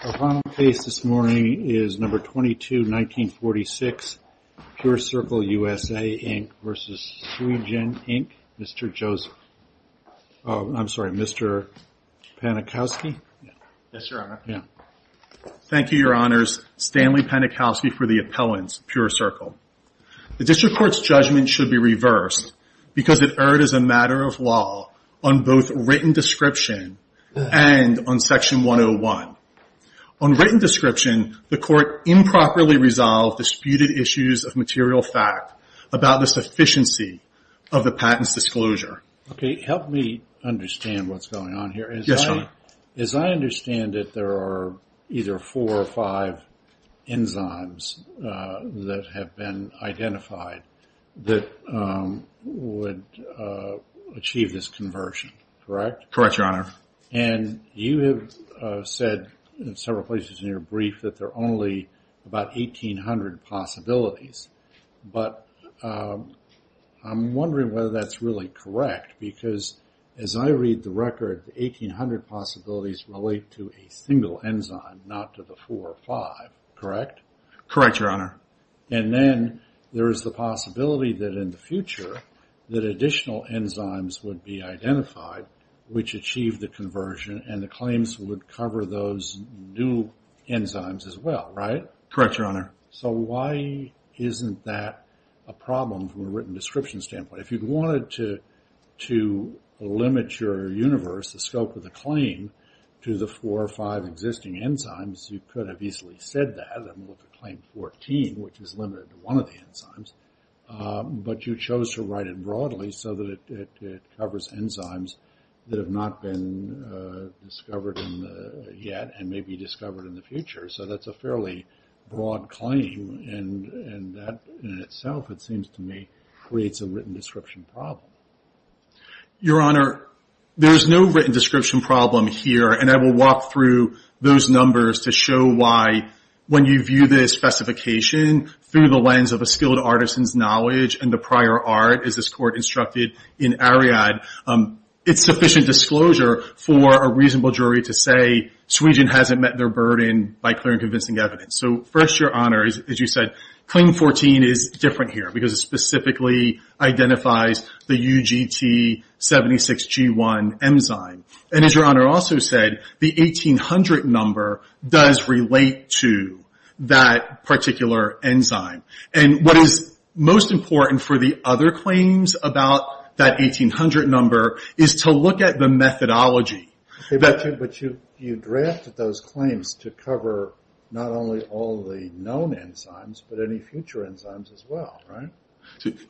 Our final case this morning is No. 22-1946, PureCircle USA Inc. v. SweeGen, Inc., Mr. Joseph, I'm sorry, Mr. Panikowsky. Yes, Your Honor. Thank you, Your Honors. Stanley Panikowsky for the appellants, PureCircle. The District Court's judgment should be reversed because it erred as a matter of law on both written description and on Section 101. On written description, the Court improperly resolved disputed issues of material fact about the sufficiency of the patent's disclosure. Help me understand what's going on here. Yes, Your Honor. As I understand it, there are either four or five enzymes that have been identified that would achieve this conversion, correct? Correct, Your Honor. And you have said in several places in your brief that there are only about 1,800 possibilities, but I'm wondering whether that's really correct because as I read the record, 1,800 possibilities relate to a single enzyme, not to the four or five, correct? Correct, Your Honor. And then there is the possibility that in the future that additional enzymes would be identified which achieve the conversion and the claims would cover those new enzymes as well, right? Correct, Your Honor. So why isn't that a problem from a written description standpoint? If you wanted to limit your universe, the scope of the claim, to the four or five existing enzymes, you could have easily said that with the claim 14, which is limited to one of the enzymes, but you chose to write it broadly so that it covers enzymes that have not been discovered yet and may be discovered in the future. So that's a fairly broad claim and that in itself, it seems to me, creates a written description problem. Your Honor, there is no written description problem here and I will walk through those numbers to show why when you view this specification through the lens of a skilled artisan's knowledge and the prior art, as this Court instructed in Ariadne, it's sufficient disclosure for a reasonable jury to say, Sweden hasn't met their burden by clear and convincing evidence. So first, Your Honor, as you said, claim 14 is different here because it specifically identifies the UGT76G1 enzyme. And as Your Honor also said, the 1800 number does relate to that particular enzyme. And what is most important for the other claims about that 1800 number is to look at the methodology. But you drafted those claims to cover not only all the known enzymes, but any future enzymes as well, right?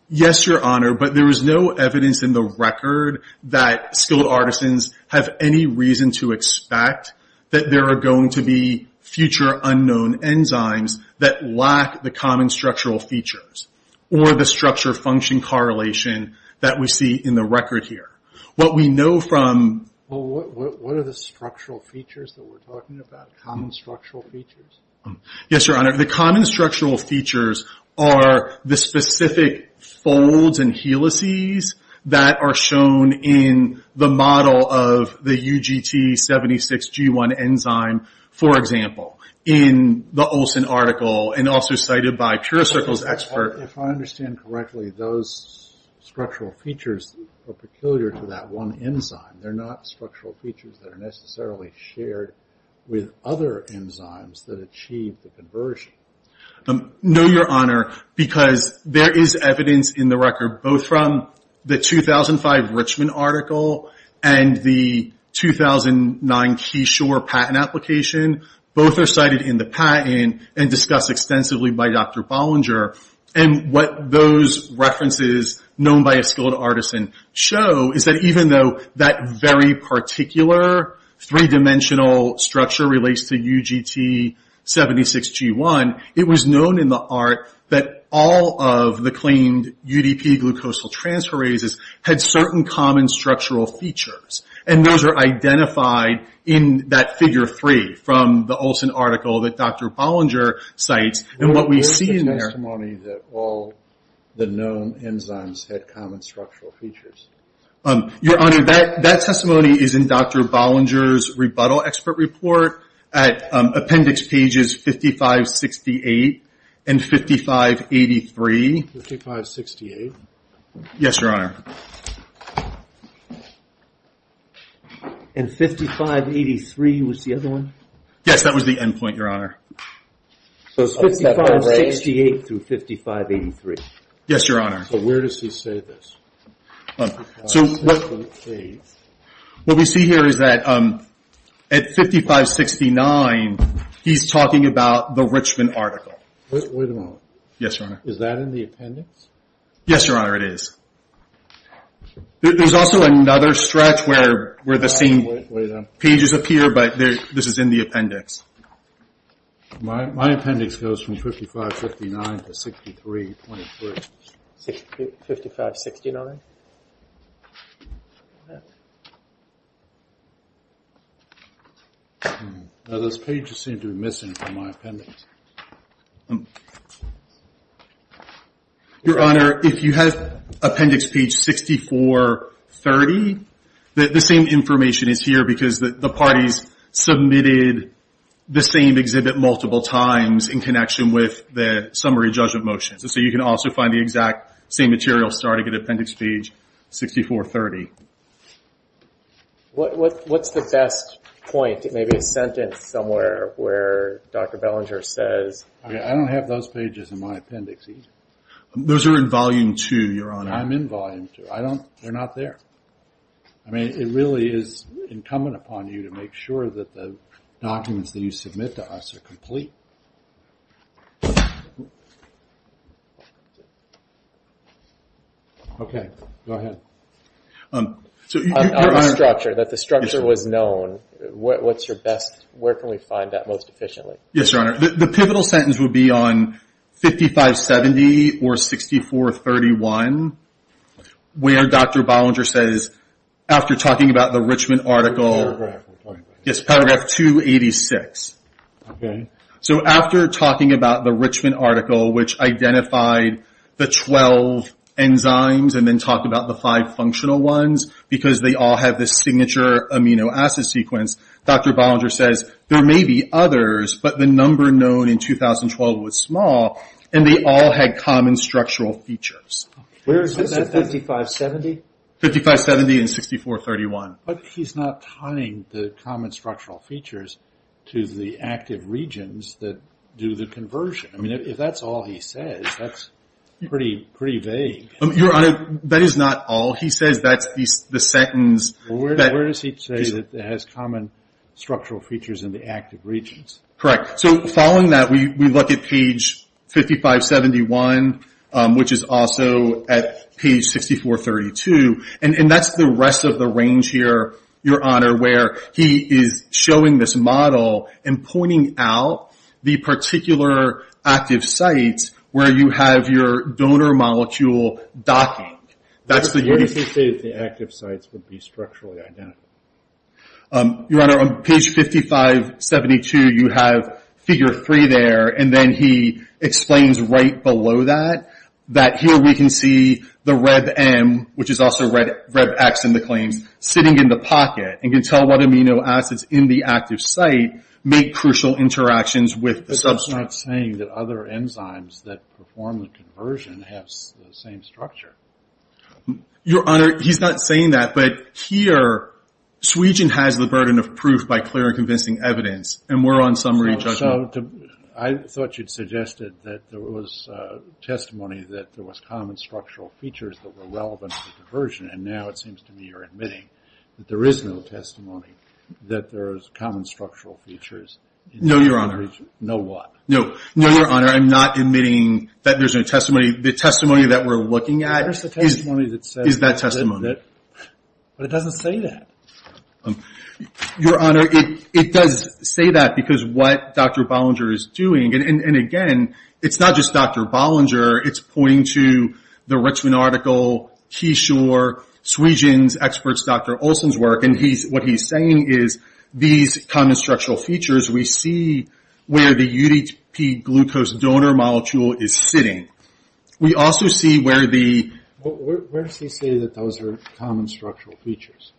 Yes, Your Honor, but there is no evidence in the record that skilled artisans have any reason to expect that there are going to be future unknown enzymes that lack the common structural features or the structure-function correlation that we see in the record here. What we know from... Well, what are the structural features that we're talking about? Common structural features? Yes, Your Honor, the common structural features are the specific folds and helices that are shown in the model of the UGT76G1 enzyme, for example, in the Olson article and also cited by PureCircle's expert. If I understand correctly, those structural features are peculiar to that one enzyme. They're not structural features that are necessarily shared with other enzymes that achieve the conversion. No, Your Honor, because there is evidence in the record, both from the 2005 Richmond article and the 2009 Keyshore patent application, both are cited in the patent and discussed extensively by Dr. Bollinger. What those references, known by a skilled artisan, show is that even though that very particular three-dimensional structure relates to UGT76G1, it was known in the art that all of the claimed UDP glucosal transferases had certain common structural features. Those are identified in that figure three from the Olson article that Dr. Bollinger cites. Where is the testimony that all the known enzymes had common structural features? Your Honor, that testimony is in Dr. Bollinger's rebuttal expert report at appendix pages 5568 and 5583. 5568? Yes, Your Honor. And 5583 was the other one? Yes, that was the endpoint, Your Honor. So it's 5568 through 5583? Yes, Your Honor. So where does he say this? So what we see here is that at 5569, he's talking about the Richmond article. Wait a moment. Yes, Your Honor. Is that in the appendix? Yes, Your Honor, it is. There's also another stretch where the same pages appear, but this is in the appendix. My appendix goes from 5559 to 6323. 5569? Now those pages seem to be missing from my appendix. Your Honor, if you have appendix page 6430, the same information is here because the parties submitted the same exhibit multiple times in connection with the summary judgment motions. So you can also find the exact same material starting at appendix page 6430. What's the best point? Maybe a sentence somewhere where Dr. Bollinger says... I don't have those pages in my appendix either. Those are in volume two, Your Honor. I'm in volume two. They're not there. I mean, it really is incumbent upon you to make sure that the documents that you submit to us are complete. Okay. Go ahead. On the structure, that the structure was known, what's your best... Where can we find that most efficiently? Yes, Your Honor. The pivotal sentence would be on 5570 or 6431 where Dr. Bollinger says, after talking about the Richmond article... Paragraph 286. Yes, paragraph 286. Okay. So after talking about the Richmond article which identified the 12 enzymes and then talked about the five functional ones because they all have this signature amino acid sequence, Dr. Bollinger says there may be others, but the number known in 2012 was small and they all had common structural features. Okay. Where is this at? 5570? 5570 and 6431. But he's not tying the common structural features to the active regions that do the conversion. I mean, if that's all he says, that's pretty vague. Your Honor, that is not all he says. That's the sentence... Where does he say that it has common structural features in the active regions? Correct. So following that, we look at page 5571, which is also at page 6432, and that's the rest of the range here, Your Honor, where he is showing this model and pointing out the particular active sites where you have your donor molecule docking. Where does he say that the active sites would be structurally identical? Your Honor, on page 5572, you have figure three there, and then he explains right below that that here we can see the RebM, which is also RebX in the claims, sitting in the pocket and can tell what amino acids in the active site make crucial interactions with the substrate. But that's not saying that other enzymes that perform the conversion have the same structure. Your Honor, he's not saying that, but here Swegion has the burden of proof by clear and convincing evidence, and we're on summary judgment. So I thought you'd suggested that there was testimony that there was common structural features that were relevant to conversion, and now it seems to me you're admitting that there is no testimony that there is common structural features. No, Your Honor. No what? No, Your Honor, I'm not admitting that there's no testimony. The testimony that we're looking at is that testimony. But it doesn't say that. Your Honor, it does say that because what Dr. Bollinger is doing, and again, it's not just Dr. Bollinger. It's pointing to the Richmond article, Keyshore, Swegion's experts, Dr. Olson's work, and what he's saying is these common structural features, we see where the UDP glucose donor molecule is sitting. We also see where the... Where does he say that those are common structural features?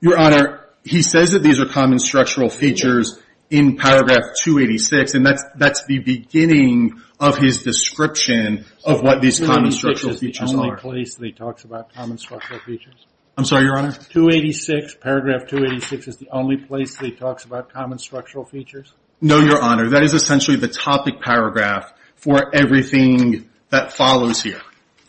Your Honor, he says that these are common structural features in paragraph 286, and that's the beginning of his description of what these common structural features are. Is that the only place that he talks about common structural features? I'm sorry, Your Honor? 286, paragraph 286 is the only place that he talks about common structural features? No, Your Honor. That is essentially the topic paragraph for everything that follows here,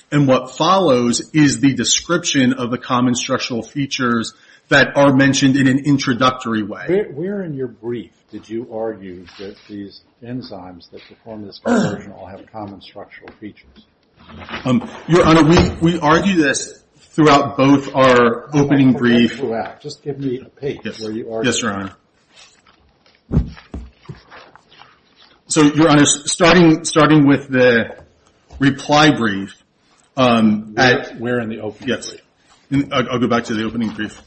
and what follows is the description of the common structural features that are mentioned in an introductory way. Where in your brief did you argue that these enzymes that perform this conversion all have common structural features? Your Honor, we argue this throughout both our opening brief. Just give me a page where you argue that. Yes, Your Honor. So, Your Honor, starting with the reply brief. Where in the opening brief? I'll go back to the opening brief.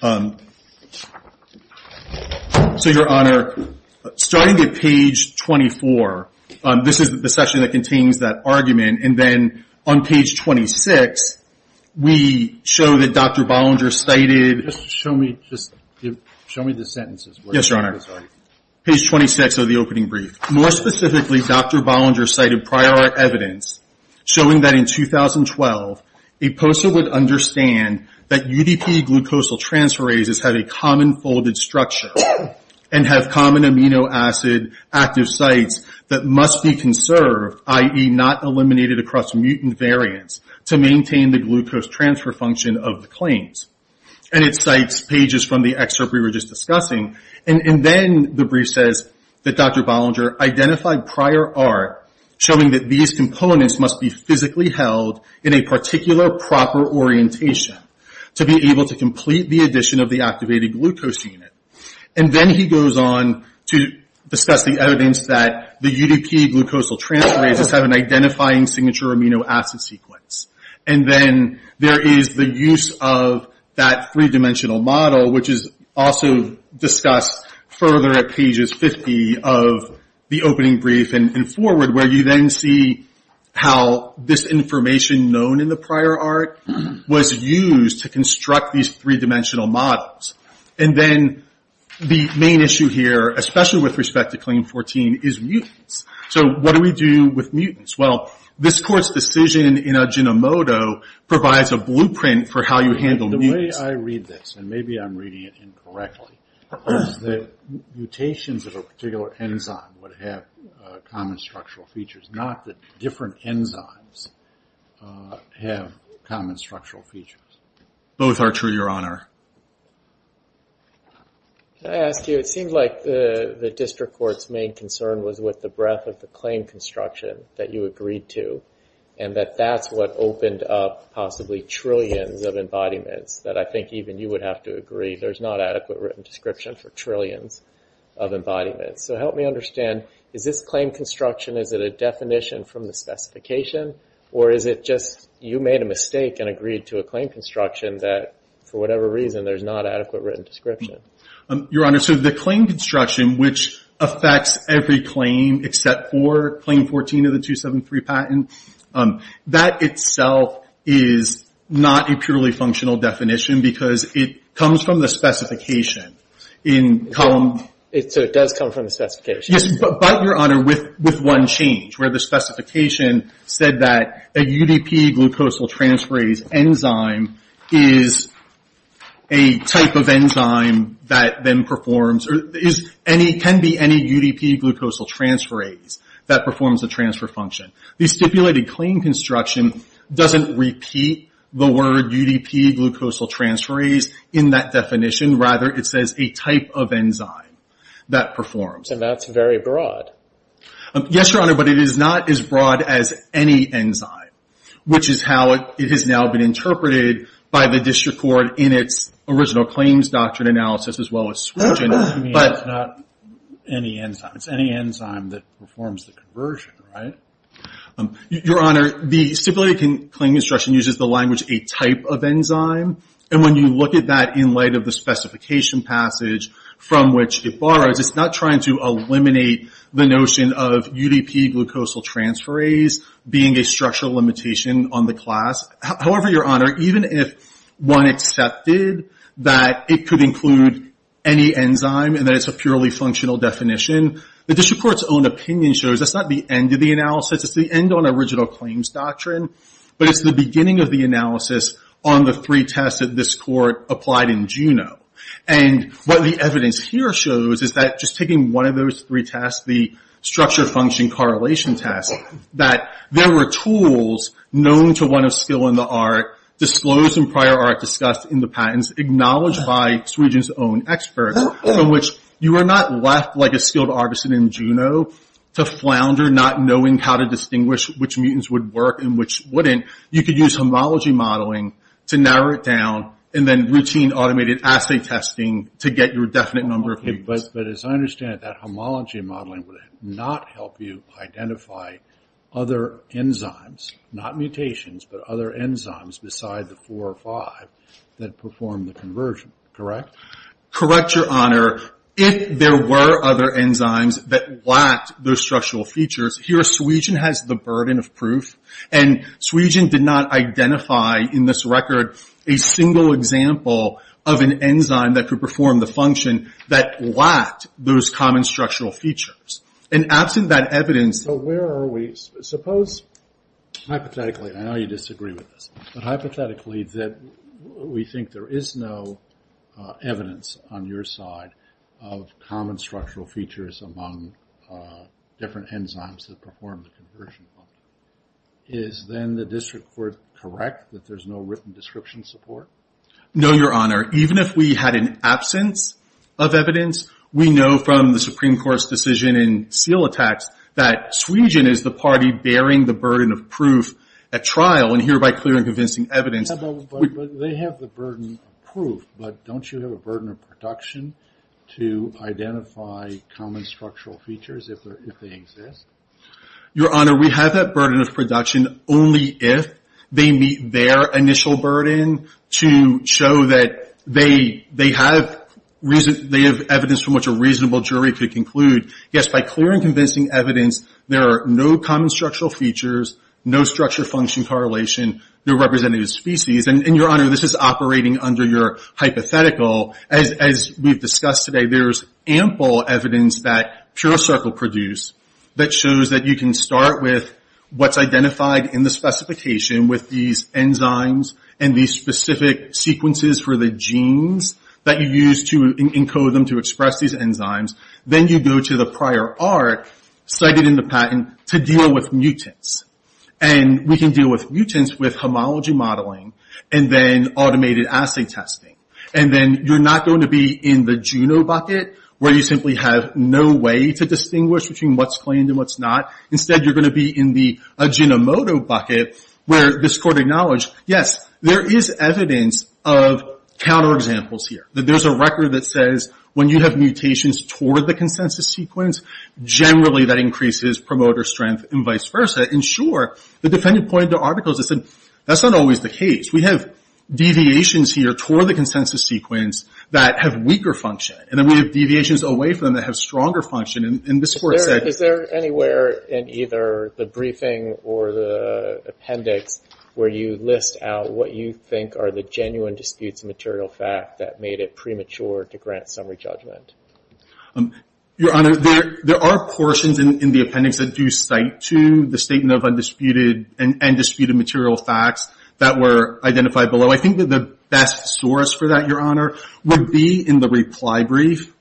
So, Your Honor, starting at page 24, this is the section that contains that argument, and then on page 26, we show that Dr. Bollinger cited. Just show me the sentences. Yes, Your Honor. Page 26 of the opening brief. More specifically, Dr. Bollinger cited prior evidence showing that in 2012, a POSA would understand that UDP glucosal transferases had a common folded structure and have common amino acid active sites that must be conserved, i.e. not eliminated across mutant variants, to maintain the glucose transfer function of the claims. And it cites pages from the excerpt we were just discussing, and then the brief says that Dr. Bollinger identified prior art showing that these components must be physically held in a particular proper orientation to be able to complete the addition of the activated glucose unit. And then he goes on to discuss the evidence that the UDP glucosal transferases have an identifying signature amino acid sequence. And then there is the use of that three-dimensional model, which is also discussed further at pages 50 of the opening brief and forward, where you then see how this information known in the prior art was used to construct these three-dimensional models. And then the main issue here, especially with respect to Claim 14, is mutants. So what do we do with mutants? Well, this Court's decision in Adginomoto provides a blueprint for how you handle mutants. The way I read this, and maybe I'm reading it incorrectly, is that mutations of a particular enzyme would have common structural features, not that different enzymes have common structural features. Both are true, Your Honor. Can I ask you, it seems like the District Court's main concern was with the breadth of the claim construction that you agreed to, and that that's what opened up possibly trillions of embodiments that I think even you would have to agree there's not adequate written description for trillions of embodiments. So help me understand, is this claim construction, is it a definition from the specification, or is it just you made a mistake and agreed to a claim construction that for whatever reason there's not adequate written description? Your Honor, so the claim construction, which affects every claim except for Claim 14 of the 273 patent, that itself is not a purely functional definition because it comes from the specification. So it does come from the specification? Yes, but, Your Honor, with one change, where the specification said that a UDP-glucosyltransferase enzyme is a type of enzyme that then performs, can be any UDP-glucosyltransferase that performs a transfer function. The stipulated claim construction doesn't repeat the word UDP-glucosyltransferase in that definition. Rather, it says a type of enzyme that performs. And that's very broad. Yes, Your Honor, but it is not as broad as any enzyme, which is how it has now been interpreted by the district court in its original claims doctrine analysis as well as switching. You mean it's not any enzyme? It's any enzyme that performs the conversion, right? Your Honor, the stipulated claim construction uses the language a type of enzyme. And when you look at that in light of the specification passage from which it borrows, it's not trying to eliminate the notion of UDP-glucosyltransferase being a structural limitation on the class. However, Your Honor, even if one accepted that it could include any enzyme and that it's a purely functional definition, the district court's own opinion shows that's not the end of the analysis. It's the end on original claims doctrine. But it's the beginning of the analysis on the three tests that this court applied in Juneau. And what the evidence here shows is that just taking one of those three tests, the structure function correlation test, that there were tools known to one of skill in the art disclosed in prior art discussed in the patents acknowledged by Sweden's own experts, from which you are not left like a skilled artisan in Juneau to flounder not knowing how to distinguish which mutants would work and which wouldn't. You could use homology modeling to narrow it down and then routine automated assay testing to get your definite number of cases. But as I understand it, that homology modeling would not help you identify other enzymes, not mutations, but other enzymes beside the four or five that perform the conversion, correct? Correct, Your Honor. If there were other enzymes that lacked those structural features, here Sweden has the burden of proof. And Sweden did not identify in this record a single example of an enzyme that could perform the function that lacked those common structural features. And absent that evidence... So where are we? Suppose hypothetically, I know you disagree with this, but hypothetically that we think there is no evidence on your side of common structural features among different enzymes that perform the conversion function. Is then the district court correct that there's no written description support? No, Your Honor. Even if we had an absence of evidence, we know from the Supreme Court's decision in seal attacks that Sweden is the party bearing the burden of proof at trial and hereby clearing convincing evidence... But they have the burden of proof. But don't you have a burden of production to identify common structural features if they exist? Your Honor, we have that burden of production only if they meet their initial burden to show that they have evidence from which a reasonable jury could conclude. Yes, by clearing convincing evidence, there are no common structural features, no structure-function correlation, no representative species. And, Your Honor, this is operating under your hypothetical. As we've discussed today, there's ample evidence that PureCircle produce that shows that you can start with what's identified in the specification with these enzymes and these specific sequences for the genes that you've used to encode them to express these enzymes. Then you go to the prior arc cited in the patent to deal with mutants. And we can deal with mutants with homology modeling and then automated assay testing. And then you're not going to be in the Juno bucket where you simply have no way to distinguish between what's claimed and what's not. Instead, you're going to be in the Ajinomoto bucket where this Court acknowledged, yes, there is evidence of counterexamples here, that there's a record that says when you have mutations toward the consensus sequence, generally that increases promoter strength and vice versa. And, sure, the defendant pointed to articles that said, that's not always the case. We have deviations here toward the consensus sequence that have weaker function. And then we have deviations away from them that have stronger function. And this Court said... Is there anywhere in either the briefing or the appendix where you list out what you think are the genuine disputes of material fact that made it premature to grant summary judgment? Your Honor, there are portions in the appendix that do cite to the statement of undisputed and disputed material facts that were identified below. I think that the best source for that, Your Honor, would be in the reply brief,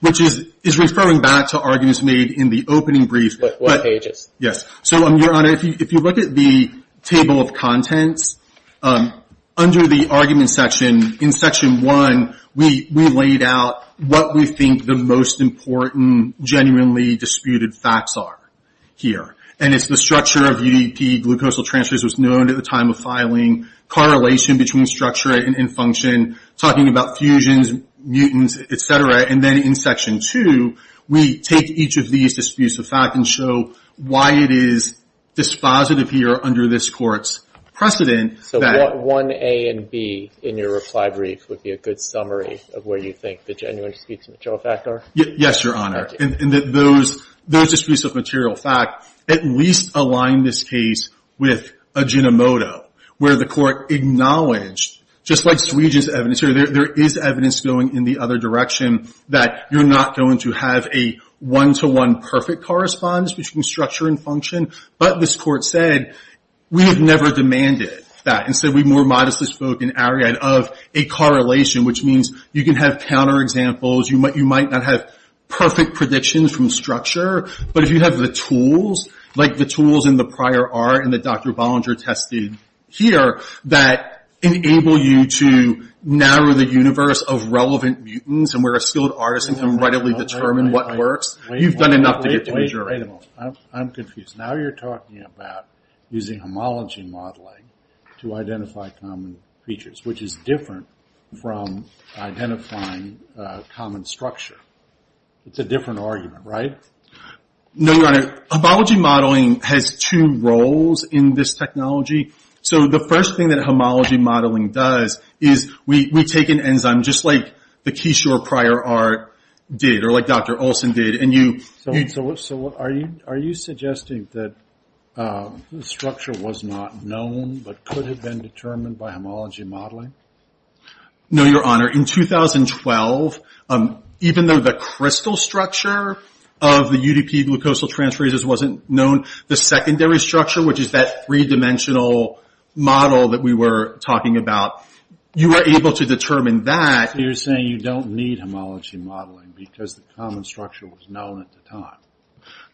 which is referring back to arguments made in the opening brief. What pages? Yes. So, Your Honor, if you look at the table of contents, under the argument section in Section 1, we laid out what we think the most important genuinely disputed facts are here. And it's the structure of UDP, glucosal transfers was known at the time of filing, correlation between structure and function, talking about fusions, mutants, et cetera. And then in Section 2, we take each of these disputes of fact and show why it is dispositive here under this Court's precedent. So 1A and B in your reply brief would be a good summary of where you think the genuine disputes of material fact are? Yes, Your Honor. And that those disputes of material fact at least align this case with aginomoto, where the Court acknowledged, just like Swede's evidence here, there is evidence going in the other direction that you're not going to have a one-to-one perfect correspondence between structure and function. But this Court said, we have never demanded that. And so we more modestly spoke in Ariad of a correlation, which means you can have counterexamples, you might not have perfect predictions from structure, but if you have the tools, like the tools in the prior art and that Dr. Bollinger tested here, that enable you to narrow the universe of relevant mutants and where a skilled artisan can readily determine what works, you've done enough to get to a jury. Wait a moment. I'm confused. Now you're talking about using homology modeling to identify common features, which is different from identifying common structure. It's a different argument, right? No, Your Honor. Homology modeling has two roles in this technology. So the first thing that homology modeling does is we take an enzyme, just like the Keyshore prior art did, or like Dr. Olson did, and you... So are you suggesting that the structure was not known but could have been determined by homology modeling? No, Your Honor. In 2012, even though the crystal structure of the UDP glucosal transferases wasn't known, the secondary structure, which is that three-dimensional model that we were talking about, you were able to determine that. So you're saying you don't need homology modeling because the common structure was known at the time.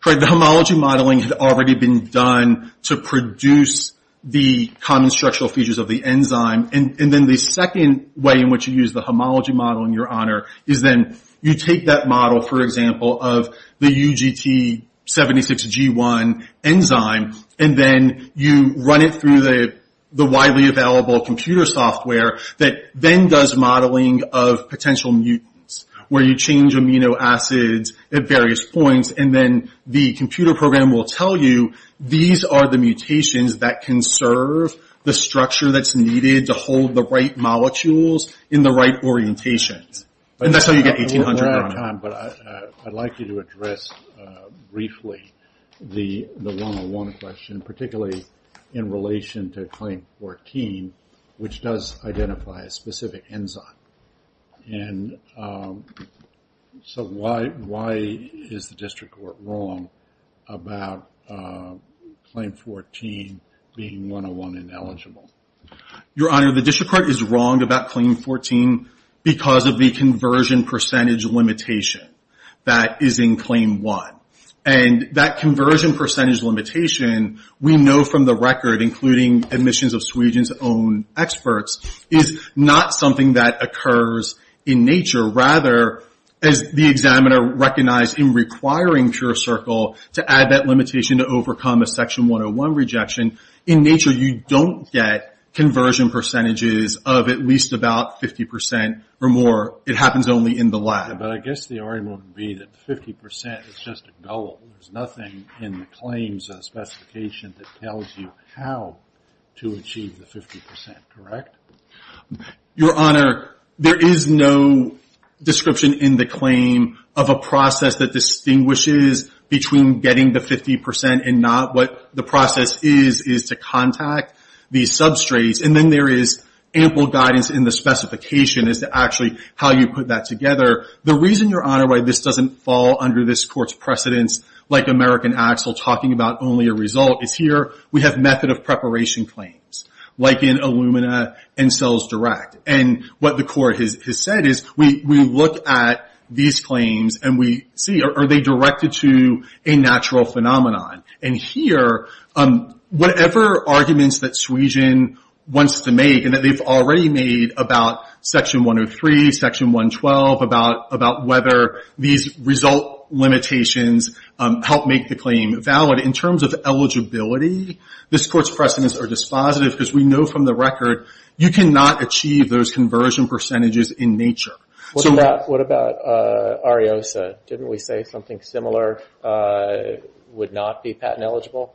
Correct. The homology modeling had already been done to produce the common structural features of the enzyme. And then the second way in which you use the homology model, Your Honor, is then you take that model, for example, of the UGT76G1 enzyme, and then you run it through the widely available computer software that then does modeling of potential mutants, where you change amino acids at various points, and then the computer program will tell you these are the mutations that can serve the structure that's needed to hold the right molecules in the right orientations. And that's how you get 1,800, Your Honor. But I'd like you to address briefly the 101 question, particularly in relation to claim 14, which does identify a specific enzyme. And so why is the district court wrong about claim 14 being 101 ineligible? Your Honor, the district court is wrong about claim 14 because of the conversion percentage limitation that is in claim 1. And that conversion percentage limitation, we know from the record, including admissions of Sweden's own experts, is not something that occurs in nature. Rather, as the examiner recognized in requiring PureCircle to add that limitation to overcome a section 101 rejection, in nature you don't get conversion percentages of at least about 50% or more. It happens only in the lab. But I guess the argument would be that 50% is just a gullible. There's nothing in the claims specification that tells you how to achieve the 50%, correct? Your Honor, there is no description in the claim of a process that distinguishes between getting the 50% and not. What the process is is to contact these substrates. And then there is ample guidance in the specification as to actually how you put that together. The reason, Your Honor, why this doesn't fall under this court's precedence, like American Axel talking about only a result, is here we have method of preparation claims, like in Illumina and CellsDirect. And what the court has said is we look at these claims and we see, are they directed to a natural phenomenon? And here, whatever arguments that Sweden wants to make, and that they've already made about Section 103, Section 112, about whether these result limitations help make the claim valid. In terms of eligibility, this court's precedence are dispositive because we know from the record you cannot achieve those conversion percentages in nature. What about Ariosa? Didn't we say something similar would not be patent eligible?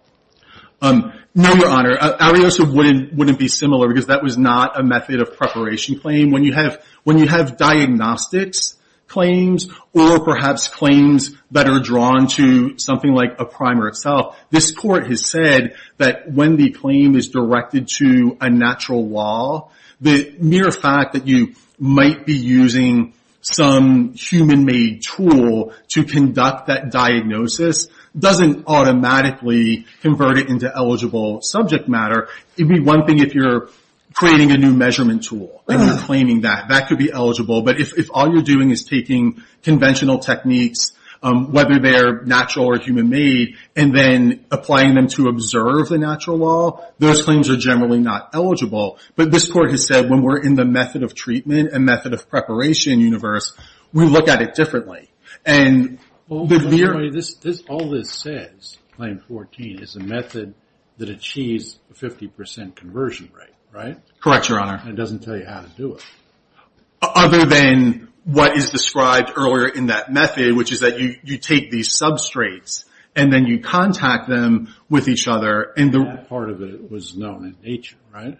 No, Your Honor. Ariosa wouldn't be similar because that was not a method of preparation claim. When you have diagnostics claims, or perhaps claims that are drawn to something like a primer itself, this court has said that when the claim is directed to a natural law, the mere fact that you might be using some human-made tool to conduct that diagnosis doesn't automatically convert it into eligible subject matter. It would be one thing if you're creating a new measurement tool and you're claiming that. That could be eligible. But if all you're doing is taking conventional techniques, whether they're natural or human-made, and then applying them to observe the natural law, those claims are generally not eligible. But this court has said when we're in the method of treatment and method of preparation universe, we look at it differently. All this says, Claim 14, is a method that achieves a 50% conversion rate, right? Correct, Your Honor. It doesn't tell you how to do it. Other than what is described earlier in that method, which is that you take these substrates and then you contact them with each other. That part of it was known in nature, right?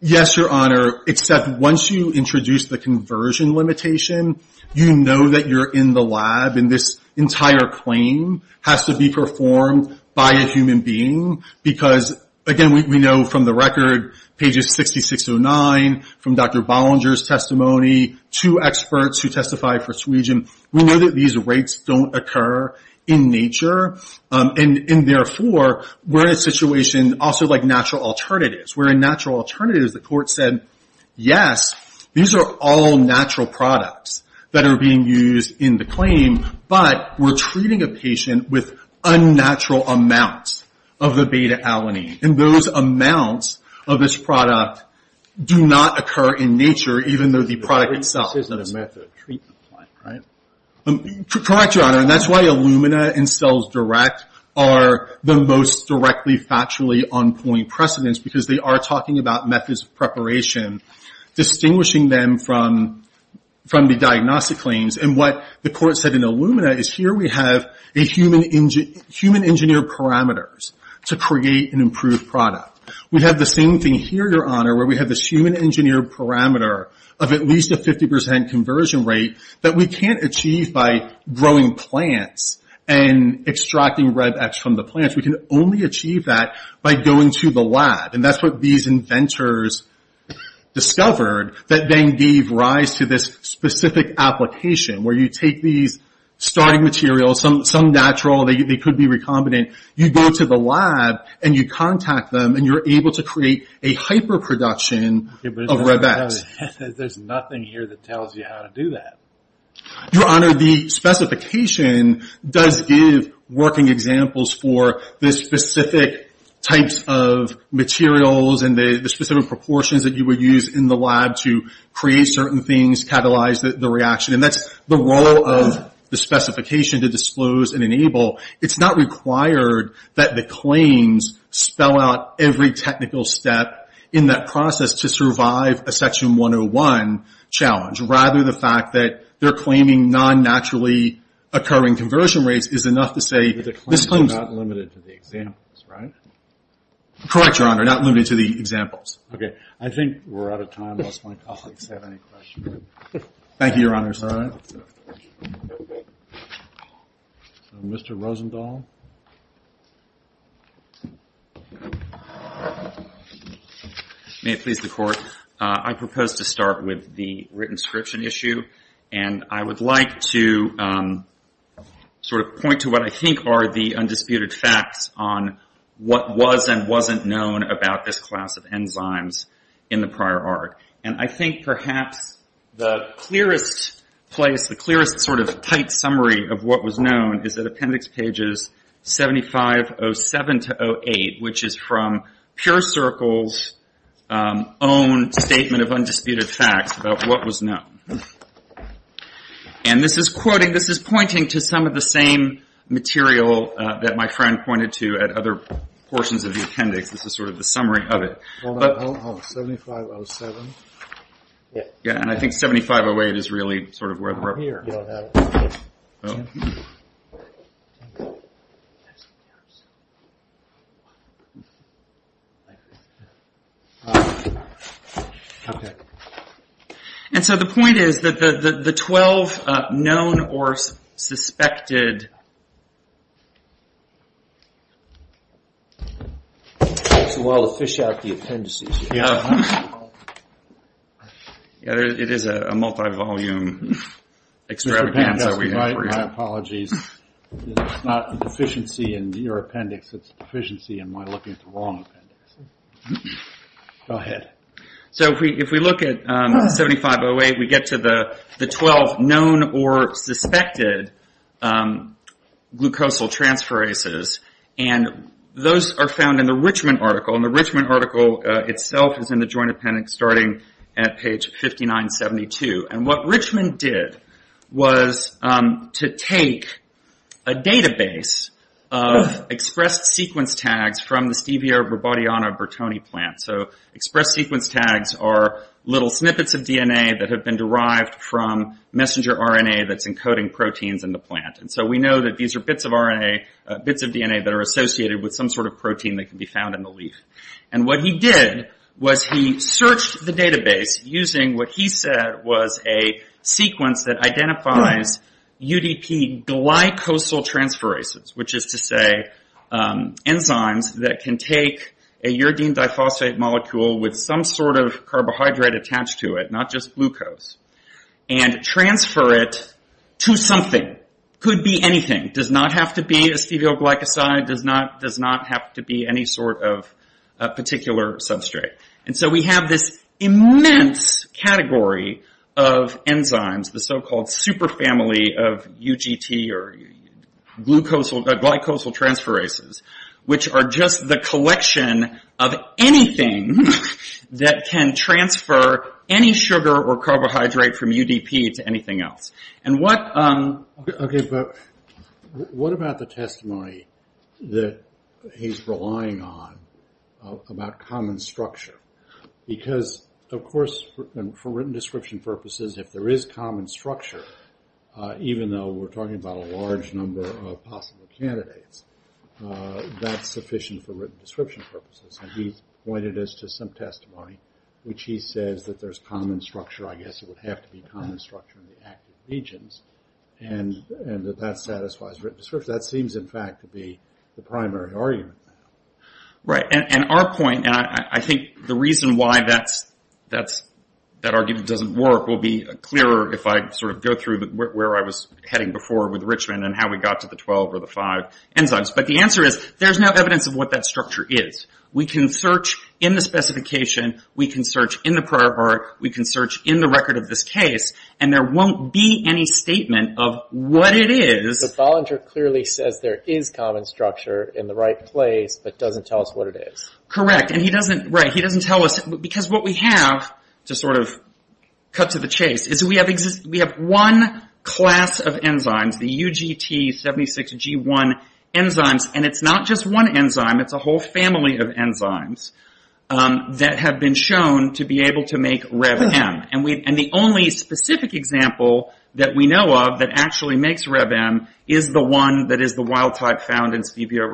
Yes, Your Honor, except once you introduce the conversion limitation, you know that you're in the lab, and this entire claim has to be performed by a human being. Because, again, we know from the record, pages 6609, from Dr. Bollinger's testimony, to experts who testified for suigium, we know that these rates don't occur in nature. And therefore, we're in a situation also like natural alternatives, where in natural alternatives, the court said, yes, these are all natural products that are being used in the claim, but we're treating a patient with unnatural amounts of the beta alanine. And those amounts of this product do not occur in nature, even though the product itself. This isn't a method of treatment, right? Correct, Your Honor, and that's why Illumina and CellsDirect are the most directly, factually on-point precedents, because they are talking about methods of preparation, distinguishing them from the diagnostic claims. And what the court said in Illumina is, here we have human-engineered parameters to create an improved product. We have the same thing here, Your Honor, where we have this human-engineered parameter of at least a 50% conversion rate that we can't achieve by growing plants and extracting RebEx from the plants. We can only achieve that by going to the lab. And that's what these inventors discovered, that then gave rise to this specific application, where you take these starting materials, some natural, they could be recombinant, you go to the lab, and you contact them, and you're able to create a hyper-production of RebEx. There's nothing here that tells you how to do that. Your Honor, the specification does give working examples for the specific types of materials and the specific proportions that you would use in the lab to create certain things, catalyze the reaction. And that's the role of the specification, to disclose and enable. It's not required that the claims spell out every technical step in that process to survive a Section 101 challenge. Rather, the fact that they're claiming non-naturally occurring conversion rates is enough to say this claims... But the claims are not limited to the examples, right? Correct, Your Honor, not limited to the examples. Okay. I think we're out of time. Unless my colleagues have any questions. Thank you, Your Honor. All right. Mr. Rosenthal. May it please the Court. I propose to start with the written-scription issue. And I would like to sort of point to what I think are the undisputed facts on what was and wasn't known about this class of enzymes in the prior art. And I think perhaps the clearest place, the clearest sort of tight summary of what was known is at Appendix Pages 7507-08, which is from Pure Circle's own statement of undisputed facts about what was known. And this is quoting, this is pointing to some of the same material that my friend pointed to at other portions of the appendix. This is sort of the summary of it. Hold on, hold on. 7507. Yeah, and I think 7508 is really sort of where we're up here. Oh. And so the point is that the 12 known or suspected. It takes a while to fish out the appendices. It is a multi-volume extravaganza. My apologies. It's not deficiency in your appendix. It's deficiency in my looking at the wrong appendix. Go ahead. So if we look at 7508, we get to the 12 known or suspected glucosal transferases. And those are found in the Richmond article. And the Richmond article itself is in the joint appendix starting at page 5972. And what Richmond did was to take a database of expressed sequence tags from the Stevia Robodiana Bertoni plant. So expressed sequence tags are little snippets of DNA that have been derived from messenger RNA that's encoding proteins in the plant. And so we know that these are bits of RNA, bits of DNA, that are associated with some sort of protein that can be found in the leaf. And what he did was he searched the database using what he said was a sequence that identifies UDP glycosal transferases, which is to say enzymes that can take a uridine diphosphate molecule with some sort of carbohydrate attached to it, not just glucose, and transfer it to something. Could be anything. Does not have to be a stevial glycoside. Does not have to be any sort of particular substrate. And so we have this immense category of enzymes, the so-called super family of UGT or glycosal transferases, which are just the collection of anything that can transfer any sugar or carbohydrate from UDP to anything else. And what about the testimony that he's relying on about common structure? Because, of course, for written description purposes, if there is common structure, even though we're talking about a large number of possible candidates, that's sufficient for written description purposes. And he's pointed us to some testimony, which he says that there's common structure. I guess it would have to be common structure in the active regions, and that that satisfies written description. That seems, in fact, to be the primary argument. Right. And our point, and I think the reason why that argument doesn't work, will be clearer if I sort of go through where I was heading before with Richmond and how we got to the 12 or the 5 enzymes. But the answer is there's no evidence of what that structure is. We can search in the specification. We can search in the prior part. We can search in the record of this case. And there won't be any statement of what it is. But Bollinger clearly says there is common structure in the right place, but doesn't tell us what it is. Correct. And he doesn't, right, he doesn't tell us. Because what we have, to sort of cut to the chase, is we have one class of enzymes, the UGT76G1 enzymes. And it's not just one enzyme. It's a whole family of enzymes that have been shown to be able to make REV-M. And the only specific example that we know of that actually makes REV-M is the one that is the wild-type found in Stevia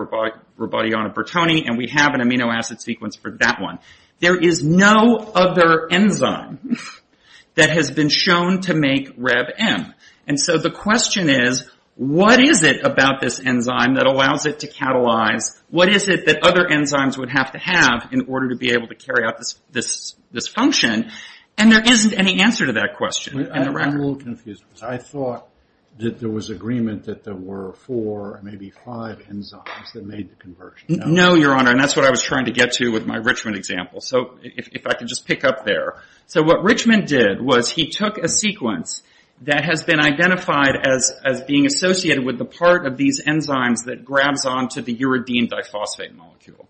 rubidiana-Bertoni, and we have an amino acid sequence for that one. There is no other enzyme that has been shown to make REV-M. And so the question is, what is it about this enzyme that allows it to catalyze? What is it that other enzymes would have to have in order to be able to make this function? And there isn't any answer to that question. I'm a little confused. I thought that there was agreement that there were four, maybe five enzymes that made the conversion. No, Your Honor, and that's what I was trying to get to with my Richmond example. So if I could just pick up there. So what Richmond did was he took a sequence that has been identified as being associated with the part of these enzymes that grabs onto the uridine diphosphate molecule.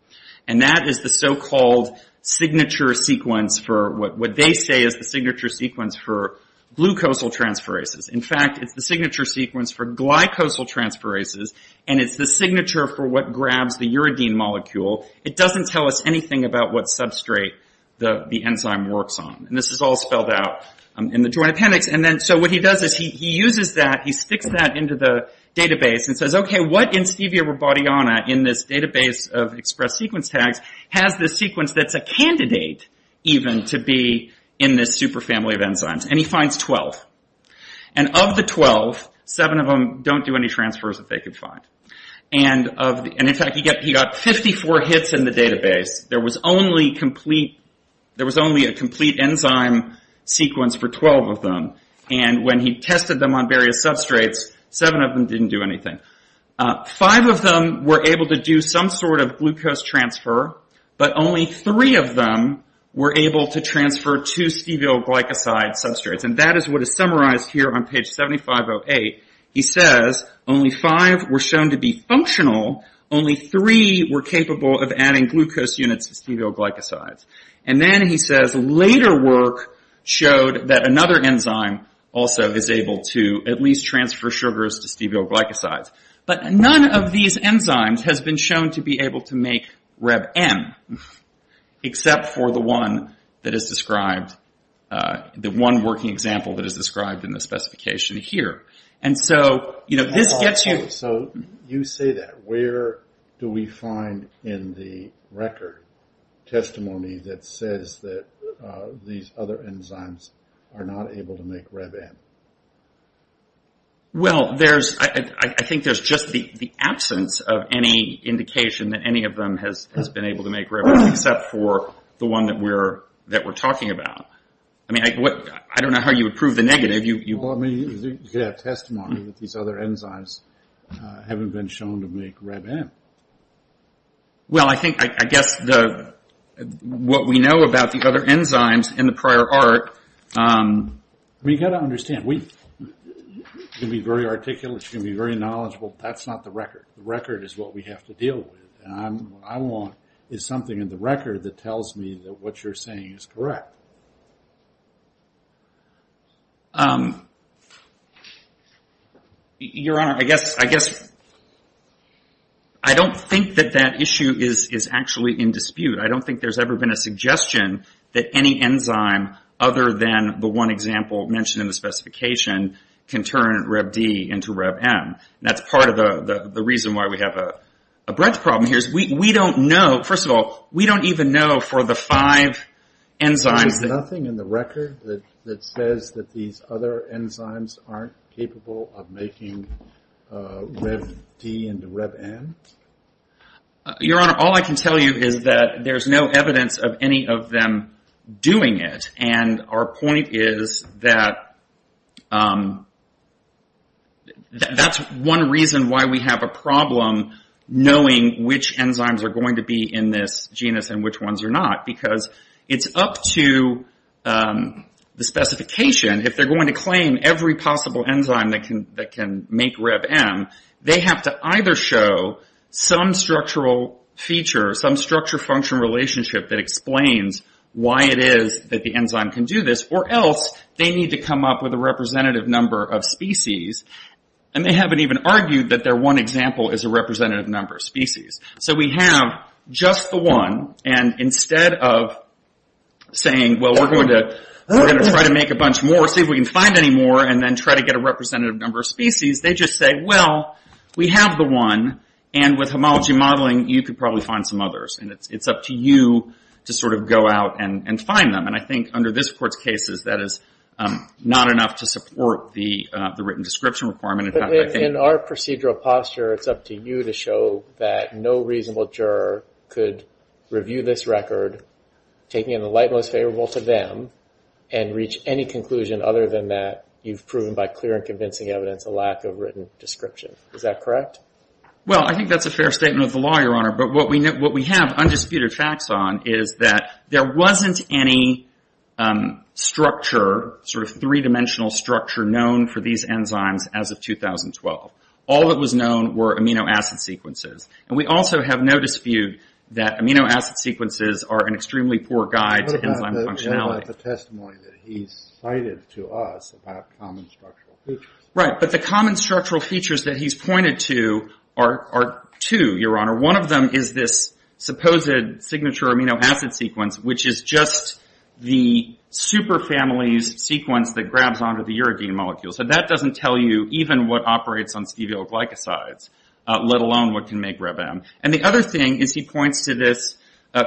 And that is the so-called signature sequence for what they say is the signature sequence for glucosal transferases. In fact, it's the signature sequence for glycosal transferases, and it's the signature for what grabs the uridine molecule. It doesn't tell us anything about what substrate the enzyme works on. And this is all spelled out in the Joint Appendix. So what he does is he uses that, he sticks that into the database and says, okay, what in Stevia rebaudiana in this database of expressed sequence tags has this sequence that's a candidate even to be in this super family of enzymes? And he finds 12. And of the 12, seven of them don't do any transfers that they could find. And, in fact, he got 54 hits in the database. There was only a complete enzyme sequence for 12 of them. And when he tested them on various substrates, seven of them didn't do anything. Five of them were able to do some sort of glucose transfer, but only three of them were able to transfer two stevial glycoside substrates. And that is what is summarized here on page 7508. He says only five were shown to be functional, only three were capable of adding glucose units to stevial glycosides. And then he says later work showed that another enzyme also is able to at least transfer sugars to stevial glycosides. But none of these enzymes has been shown to be able to make RebM, except for the one that is described, the one working example that is described in the specification here. And so, you know, this gets you. So you say that. Where do we find in the record testimony that says that these other enzymes are not able to make RebM? Well, I think there's just the absence of any indication that any of them has been able to make RebM, except for the one that we're talking about. I mean, I don't know how you would prove the negative. You could have testimony that these other enzymes haven't been shown to make RebM. Well, I think I guess what we know about the other enzymes in the prior art. We've got to understand. We can be very articulate. We can be very knowledgeable. That's not the record. The record is what we have to deal with. What I want is something in the record that tells me that what you're saying is correct. Your Honor, I guess I don't think that that issue is actually in dispute. I don't think there's ever been a suggestion that any enzyme, other than the one example mentioned in the specification, can turn RebD into RebM. That's part of the reason why we have a breadth problem here. First of all, we don't even know for the five enzymes. There's nothing in the record that says that these other enzymes aren't capable of making RebD into RebM? Your Honor, all I can tell you is that there's no evidence of any of them doing it. Our point is that that's one reason why we have a problem knowing which enzymes are going to be in this genus and which ones are not, because it's up to the specification. If they're going to claim every possible enzyme that can make RebM, they have to either show some structural feature, some structure-function relationship that explains why it is that the enzyme can do this, or else they need to come up with a representative number of species, and they haven't even argued that their one example is a representative number of species. So we have just the one, and instead of saying, well, we're going to try to make a bunch more, see if we can find any more, and then try to get a representative number of species, they just say, well, we have the one, and with homology modeling, you could probably find some others. And it's up to you to sort of go out and find them. And I think under this Court's cases, that is not enough to support the written description requirement. In our procedural posture, it's up to you to show that no reasonable juror could review this record, taking it in the light most favorable to them, and reach any conclusion other than that you've proven by clear and convincing evidence a lack of written description. Is that correct? Well, I think that's a fair statement of the law, Your Honor. But what we have undisputed facts on is that there wasn't any structure, sort of three-dimensional structure known for these enzymes as of 2012. All that was known were amino acid sequences. And we also have no dispute that amino acid sequences are an extremely poor guide to enzyme functionality. Well, that's a testimony that he's cited to us about common structural features. Right, but the common structural features that he's pointed to are two, Your Honor. One of them is this supposed signature amino acid sequence, which is just the super family's sequence that grabs onto the uridine molecule. So that doesn't tell you even what operates on stevial glycosides, let alone what can make RebM. And the other thing is he points to this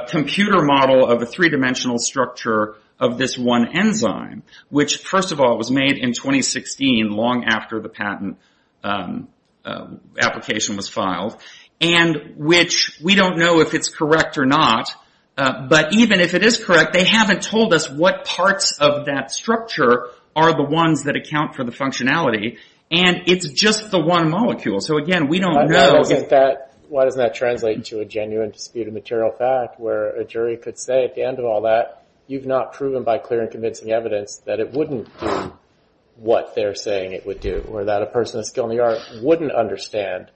computer model of a three-dimensional structure of this one enzyme, which first of all was made in 2016, long after the patent application was filed, and which we don't know if it's correct or not. But even if it is correct, they haven't told us what parts of that structure are the ones that account for the functionality. And it's just the one molecule. So again, we don't know. Why doesn't that translate to a genuine dispute of material fact where a jury could say at the end of all that, you've not proven by clear and convincing evidence that it wouldn't do what they're saying it would do, or that a person with a skill in the art wouldn't understand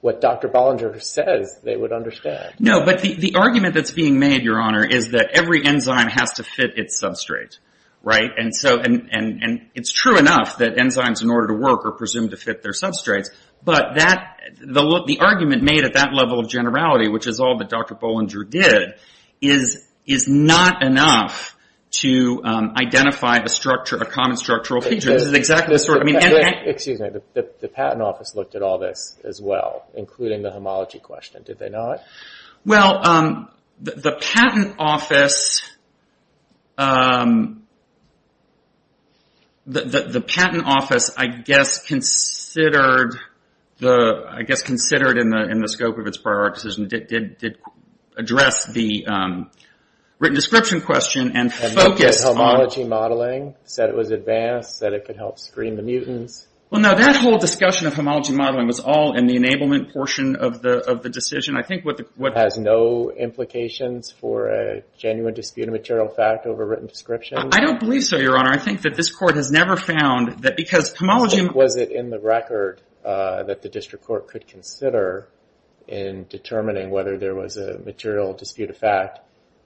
what Dr. Bollinger says they would understand. No, but the argument that's being made, Your Honor, is that every enzyme has to fit its substrate. And it's true enough that enzymes, in order to work, are presumed to fit their substrates. But the argument made at that level of generality, which is all that Dr. Bollinger did, is not enough to identify a common structural feature. Excuse me, the patent office looked at all this as well, including the homology question, did they not? Well, the patent office, I guess, considered in the scope of its prior decision, did address the written description question and focused on... Well, no, that whole discussion of homology modeling was all in the enablement portion of the decision. I think what... I don't believe so, Your Honor. I think that this Court has never found that because homology... ...that the district court could consider in determining whether there was a material dispute of fact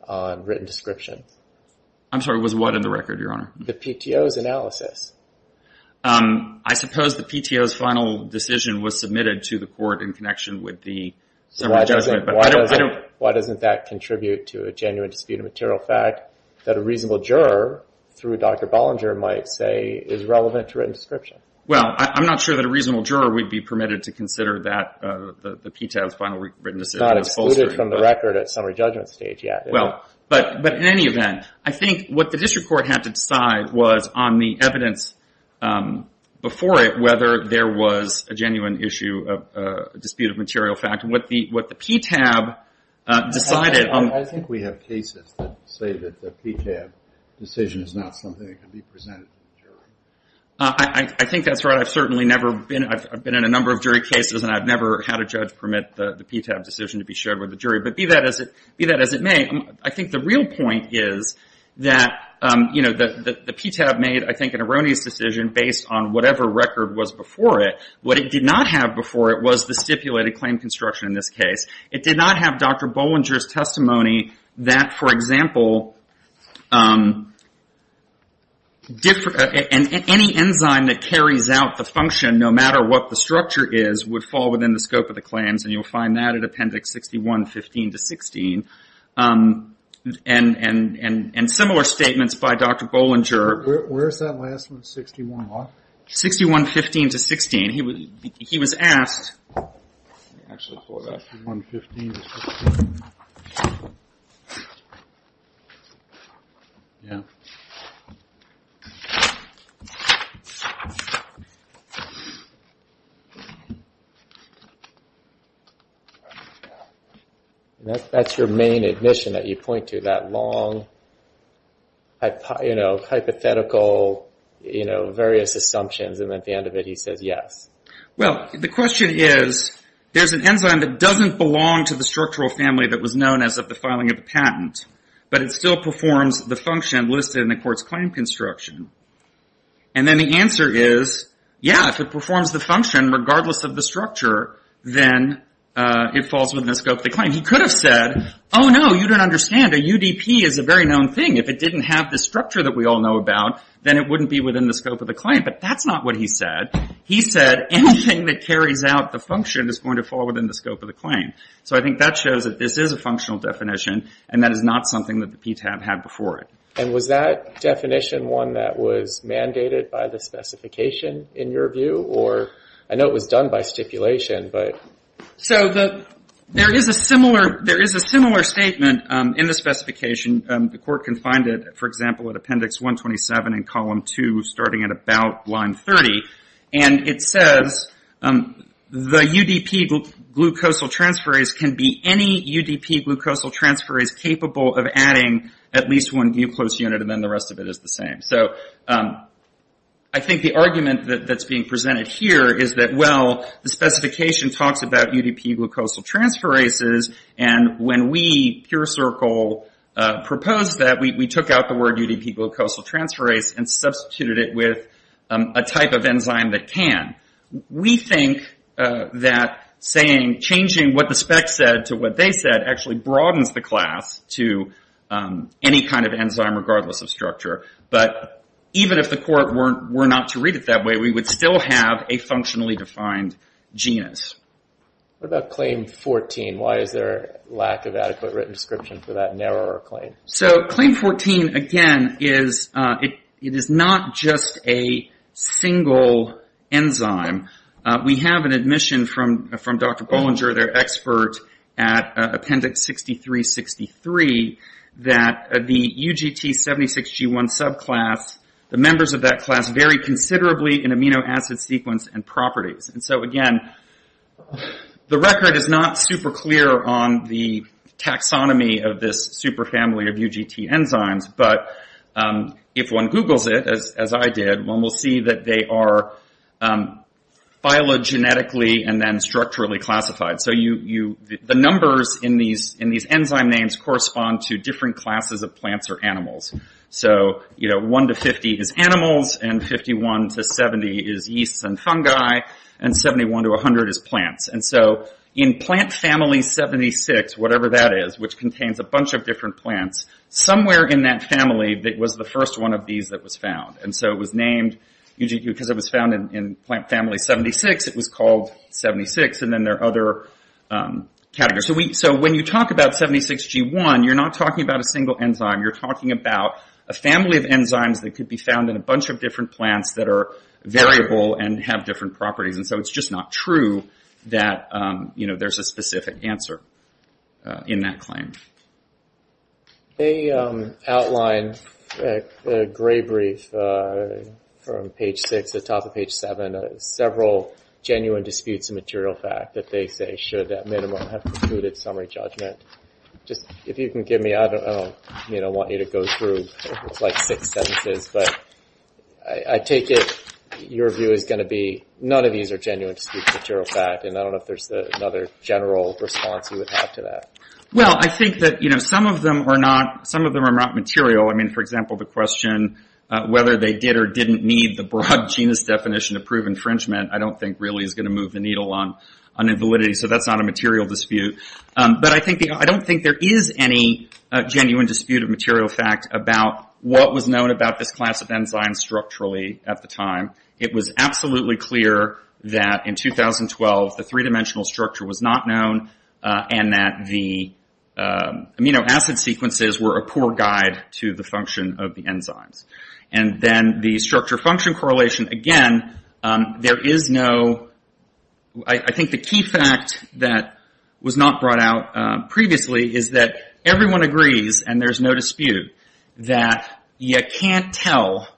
on written description. I'm sorry, what was in the record, Your Honor? The PTO's analysis. I suppose the PTO's final decision was submitted to the court in connection with the... Why doesn't that contribute to a genuine dispute of material fact that a reasonable juror, through Dr. Bollinger, might say is relevant to written description? Well, I'm not sure that a reasonable juror would be permitted to consider that, the PTO's final written decision. Not excluded from the record at summary judgment stage yet. Well, but in any event, I think what the district court had to decide was on the evidence before it, whether there was a genuine issue of dispute of material fact, and what the PTAB decided... I think we have cases that say that the PTAB decision is not something that can be presented to the jury. I think that's right. I've certainly never been... I've been in a number of jury cases, and I've never had a judge permit the PTAB decision to be shared with the jury, but be that as it may, I think the real point is that the PTAB made, I think, an erroneous decision based on whatever record was before it. What it did not have before it was the stipulated claim construction in this case. It did not have Dr. Bollinger's testimony that, for example, any enzyme that carries out the function, no matter what the structure is, would fall within the scope of the claims, and you'll find that at appendix 61, 15 to 16, and similar statements by Dr. Bollinger. Where's that last one, 61 what? 61, 15 to 16. He was asked... Yeah. That's your main admission that you point to, that long hypothetical, various assumptions, and at the end of it he says yes. Well, the question is, there's an enzyme that doesn't belong to the structural family that was known as of the filing of the patent, but it still performs the function listed in the court's claim construction, and then the answer is, yeah, if it performs the function regardless of the structure, then it falls within the scope of the claim. He could have said, oh, no, you don't understand. A UDP is a very known thing. If it didn't have the structure that we all know about, then it wouldn't be within the scope of the claim, but that's not what he said. He said anything that carries out the function is going to fall within the scope of the claim. So I think that shows that this is a functional definition, and that is not something that the PTAB had before it. And was that definition one that was mandated by the specification in your view, or I know it was done by stipulation, but... So there is a similar statement in the specification. The court can find it, for example, at Appendix 127 in Column 2, starting at about line 30, and it says the UDP glucosal transferase can be any UDP glucosal transferase capable of adding at least one glucose unit, and then the rest of it is the same. So I think the argument that's being presented here is that, well, the specification talks about UDP glucosal transferases, and when we, Pure Circle, proposed that, we took out the word UDP glucosal transferase and substituted it with a type of enzyme that can. We think that changing what the spec said to what they said actually broadens the class to any kind of enzyme, regardless of structure. But even if the court were not to read it that way, we would still have a functionally defined genus. What about Claim 14? Why is there a lack of adequate written description for that narrower claim? So Claim 14, again, it is not just a single enzyme. We have an admission from Dr. Bollinger, their expert at Appendix 6363, that the UGT76G1 subclass, the members of that class vary considerably in amino acid sequence and properties. And so, again, the record is not super clear on the taxonomy of this super family of UGT enzymes, but if one Googles it, as I did, one will see that they are phylogenetically and then structurally classified. So the numbers in these enzyme names correspond to different classes of plants or animals. So 1 to 50 is animals, and 51 to 70 is yeasts and fungi, and 71 to 100 is plants. And so in plant family 76, whatever that is, which contains a bunch of different plants, somewhere in that family was the first one of these that was found. And so it was named, because it was found in plant family 76, it was called 76, and then there are other categories. So when you talk about 76G1, you're not talking about a single enzyme, you're talking about a family of enzymes that could be found in a bunch of different plants that are variable and have different properties. And so it's just not true that there's a specific answer in that claim. They outlined a gray brief from page 6 atop of page 7, several genuine disputes of material fact that they say should that minimum have concluded summary judgment. If you can give me, I don't want you to go through like six sentences, but I take it your view is going to be none of these are genuine disputes of material fact, and I don't know if there's another general response you would have to that. Well, I think that some of them are not material. I mean, for example, the question whether they did or didn't need the broad genus definition to prove infringement, I don't think really is going to move the needle on invalidity, so that's not a material dispute. But I don't think there is any genuine dispute of material fact about what was known about this class of enzyme structurally at the time. It was absolutely clear that in 2012 the three dimensional structure was not known and that the amino acid sequences were a poor guide to the function of the enzymes. And then the structure function correlation, again, there is no, I think the key fact that was not brought out previously is that everyone agrees, and there's no dispute, that you can't tell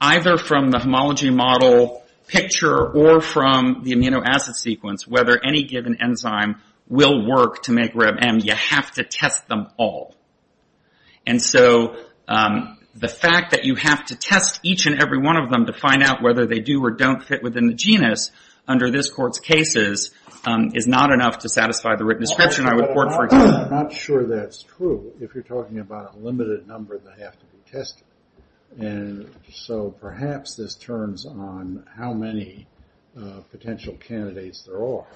either from the homology model picture or from the amino acid sequence whether any given enzyme will work to make RebM. You have to test them all. And so the fact that you have to test each and every one of them to find out whether they do or don't fit within the genus under this court's cases is not enough to satisfy the written description. I'm not sure that's true if you're talking about a limited number that have to be tested. And so perhaps this turns on how many potential candidates there are.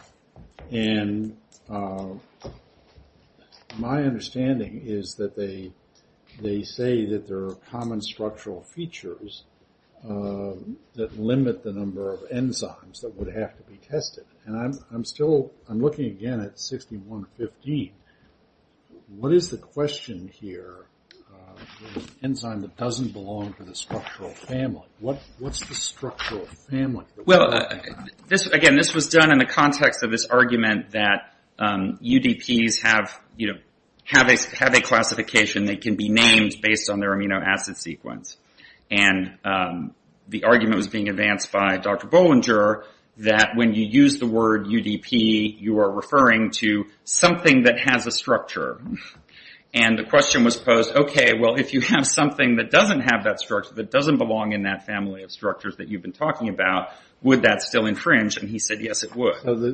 And my understanding is that they say that there are common structural features that limit the number of enzymes that would have to be tested. And I'm still, I'm looking again at 6115. What is the question here for an enzyme that doesn't belong to the structural family? What's the structural family? Well, again, this was done in the context of this argument that UDPs have a classification that can be named based on their amino acid sequence. And the argument was being advanced by Dr. Bollinger that when you use the word UDP, you are referring to something that has a structure. And the question was posed, okay, well, if you have something that doesn't have that structure, that doesn't belong in that family of structures that you've been talking about, would that still infringe? And he said, yes, it would. Well,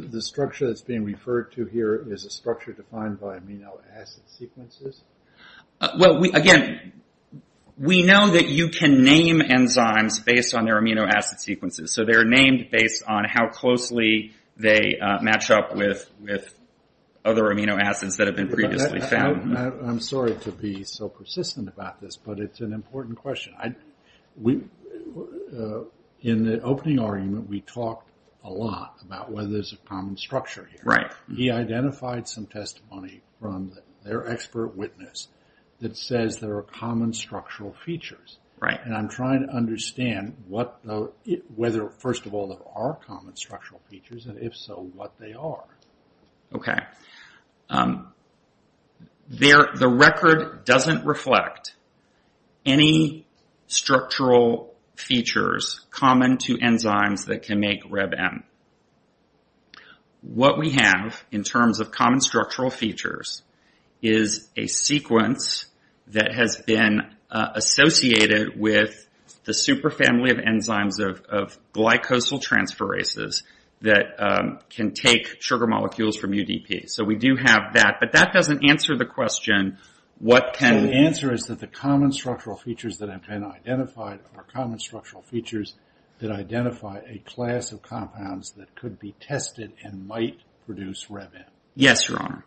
again, we know that you can name enzymes based on their amino acid sequences. So they're named based on how closely they match up with other amino acids that have been previously found. I'm sorry to be so persistent about this, but it's an important question. In the opening argument, we talked a lot about whether there's a common structure here. He identified some testimony from their expert witness that says there are common structural features. And I'm trying to understand whether, first of all, there are common structural features, and if so, what they are. Okay. The record doesn't reflect any structural features common to enzymes that can make RebM. What we have in terms of common structural features is a sequence that has been associated with the super family of enzymes of glycosyltransferases that can take sugar molecules from UDP. So we do have that, but that doesn't answer the question, what can... The answer is that the common structural features that have been identified are common structural features that identify a class of compounds that could be tested and might produce RebM. Yes, Your Honor.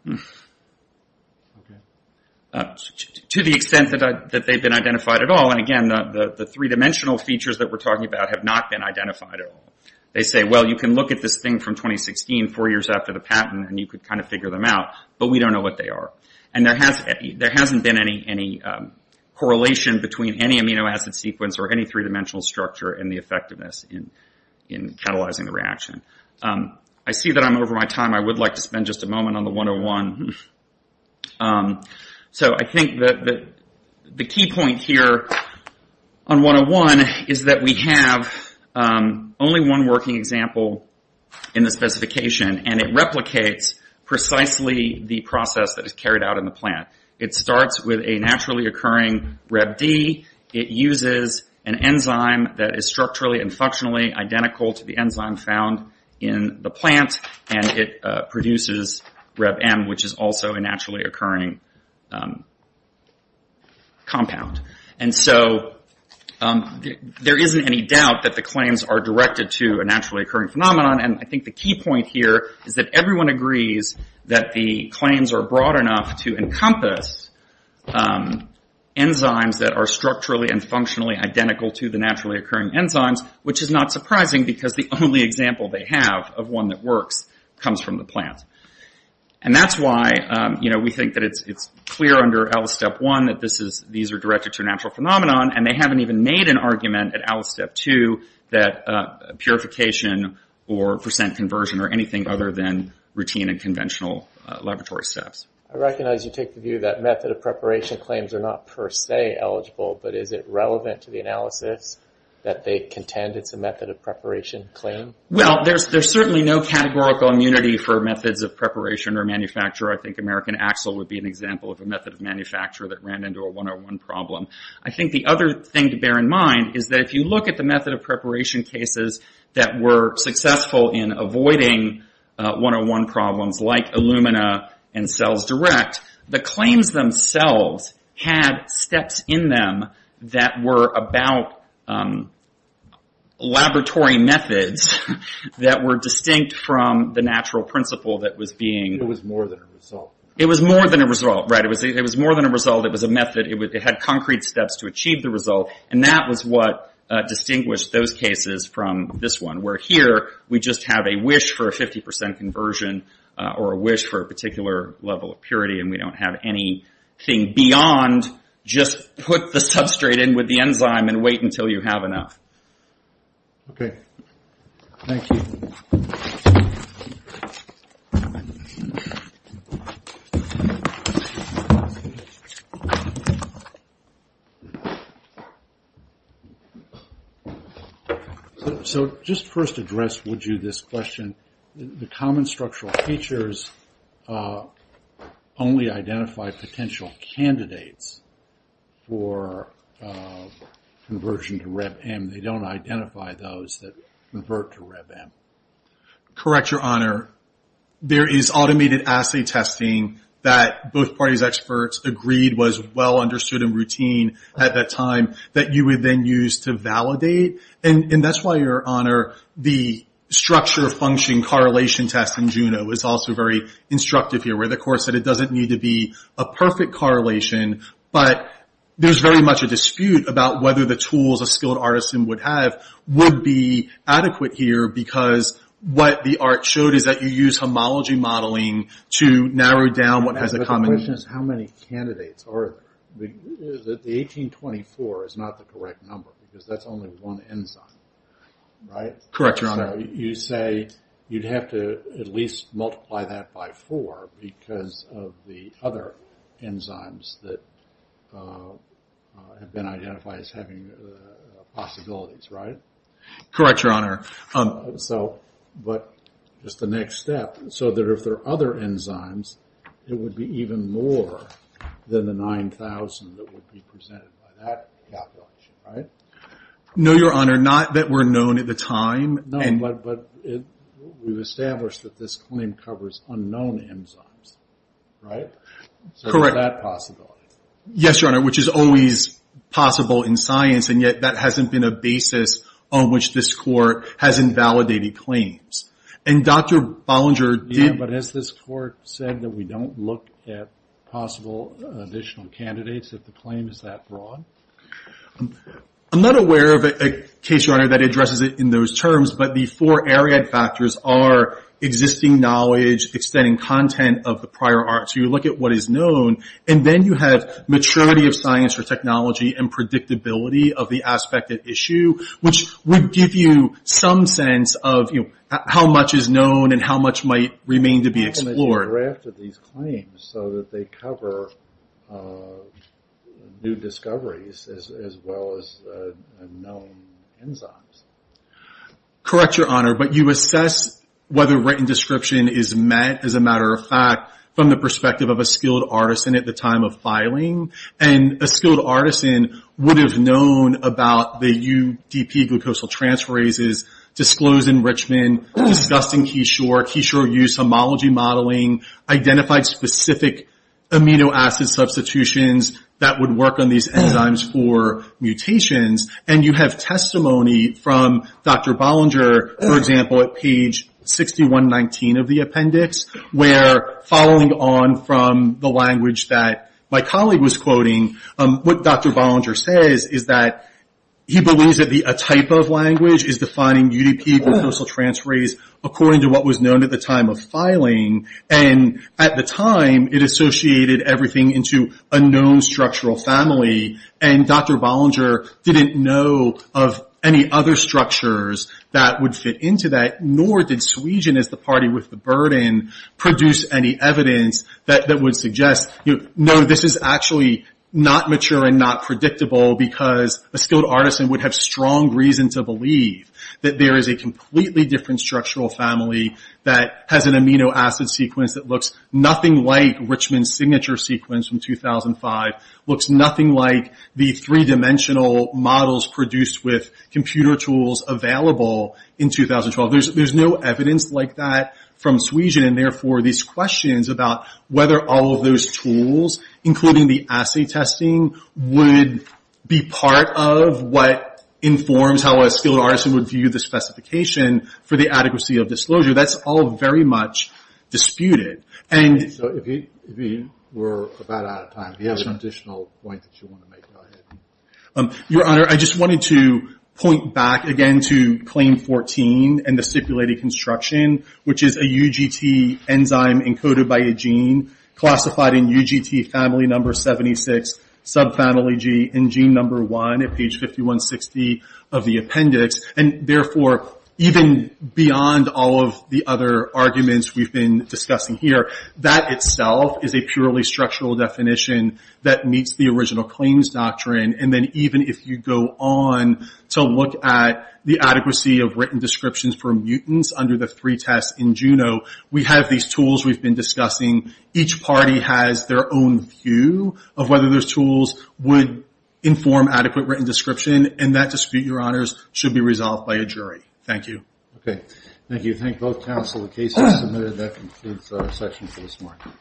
To the extent that they've been identified at all, and again, the three-dimensional features that we're talking about have not been identified at all. They say, well, you can look at this thing from 2016, four years after the patent, and you could kind of figure them out, but we don't know what they are. And there hasn't been any correlation between any amino acid sequence or any three-dimensional structure and the effectiveness in catalyzing the reaction. I see that I'm over my time. I would like to spend just a moment on the 101. So I think that the key point here on 101 is that we have only one working example in the specification, and it replicates precisely the process that is carried out in the plant. It starts with a naturally occurring RebD. It uses an enzyme that is structurally and functionally identical to the enzyme found in the plant, and it produces RebM, which is also a naturally occurring compound. And so there isn't any doubt that the claims are directed to a naturally occurring phenomenon, and I think the key point here is that everyone agrees that the claims are broad enough to encompass enzymes that are structurally and functionally identical to the naturally occurring enzymes, which is not surprising because the only example they have of one that works comes from the plant. And that's why we think that it's clear under Alice Step 1 that these are directed to a natural phenomenon, and they haven't even made an argument at Alice Step 2 that purification or percent conversion are anything other than routine and conventional laboratory steps. I recognize you take the view that method of preparation claims are not per se eligible, but is it relevant to the analysis that they contend it's a method of preparation claim? Well, there's certainly no categorical immunity for methods of preparation or manufacture. I think American Axel would be an example of a method of manufacture that ran into a 101 problem. I think the other thing to bear in mind is that if you look at the method of preparation cases that were successful in avoiding 101 problems like Illumina and CellsDirect, the claims themselves had steps in them that were about laboratory methods that were distinct from the natural principle that was being... It was more than a result. It was more than a result, right. It had concrete steps to achieve the result, and that was what distinguished those cases from this one, where here we just have a wish for a 50% conversion or a wish for a particular level of purity, and we don't have anything beyond just put the substrate in with the enzyme and wait until you have enough. Okay, thank you. So just first address would you this question, the common structural features only identify potential candidates for conversion to RebM. They don't identify those that convert to RebM. Correct, Your Honor. There is automated assay testing that both parties' experts agreed was well understood and routine at that time that you would then use to validate, and that's why, Your Honor, the structure function correlation test in Juno is also very instructive here, where the course said it doesn't need to be a perfect correlation, but there's very much a dispute about whether the tools a skilled artisan would have would be adequate here because what the art showed is that you use homology modeling to narrow down what has a common... But the question is how many candidates are... The 1824 is not the correct number because that's only one enzyme, right? Correct, Your Honor. So you say you'd have to at least multiply that by four because of the other enzymes that have been identified as having possibilities, right? Correct, Your Honor. So, but just the next step, so that if there are other enzymes, it would be even more than the 9,000 that would be presented by that calculation, right? No, Your Honor, not that we're known at the time. No, but we've established that this claim covers unknown enzymes, right? Correct. So there's that possibility. Yes, Your Honor, which is always possible in science, and yet that hasn't been a basis on which this court has invalidated claims. And Dr. Bollinger did... Yeah, but has this court said that we don't look at possible additional candidates if the claim is that broad? I'm not aware of a case, Your Honor, that addresses it in those terms, but the four area factors are existing knowledge, extending content of the prior arts. You look at what is known, and then you have maturity of science or technology and predictability of the aspect at issue, which would give you some sense of how much is known and how much might remain to be explored. So that they cover new discoveries as well as unknown enzymes. Correct, Your Honor, but you assess whether written description is met, as a matter of fact, from the perspective of a skilled artisan at the time of filing, and a skilled artisan would have known about the UDP glucosal transferases, disclosed enrichment, discussed in Keyshore, Keyshore use homology modeling, identified specific amino acid substitutions that would work on these enzymes for mutations. And you have testimony from Dr. Bollinger, for example, at page 6119 of the appendix, where following on from the language that my colleague was quoting, what Dr. Bollinger says is that he believes that a type of language is defining UDP glucosal transferase according to what was known at the time of filing. And at the time, it associated everything into a known structural family, and Dr. Bollinger didn't know of any other structures that would fit into that, nor did Sweegen as the party with the burden produce any evidence that would suggest, no, this is actually not mature and not predictable, that there is a completely different structural family that has an amino acid sequence that looks nothing like Richmond's signature sequence from 2005, looks nothing like the three-dimensional models produced with computer tools available in 2012. There's no evidence like that from Sweegen, and therefore these questions about whether all of those tools, including the assay testing, would be part of what informs how a skilled artisan would view the specification for the adequacy of disclosure, that's all very much disputed. So if we're about out of time, if you have some additional points that you want to make, go ahead. Your Honor, I just wanted to point back again to Claim 14 and the stipulated construction, which is a UGT enzyme encoded by a gene classified in UGT family number 76, subfamily G, and gene number 1 at page 5160 of the appendix, and therefore even beyond all of the other arguments we've been discussing here, that itself is a purely structural definition that meets the original claims doctrine, and then even if you go on to look at the adequacy of written descriptions for mutants under the three tests in Juno, we have these tools we've been discussing. Each party has their own view of whether those tools would inform adequate written description, and that dispute, Your Honors, should be resolved by a jury. Thank you. Okay. Thank you. Thank both counsel. The case is submitted. That concludes our session for this morning.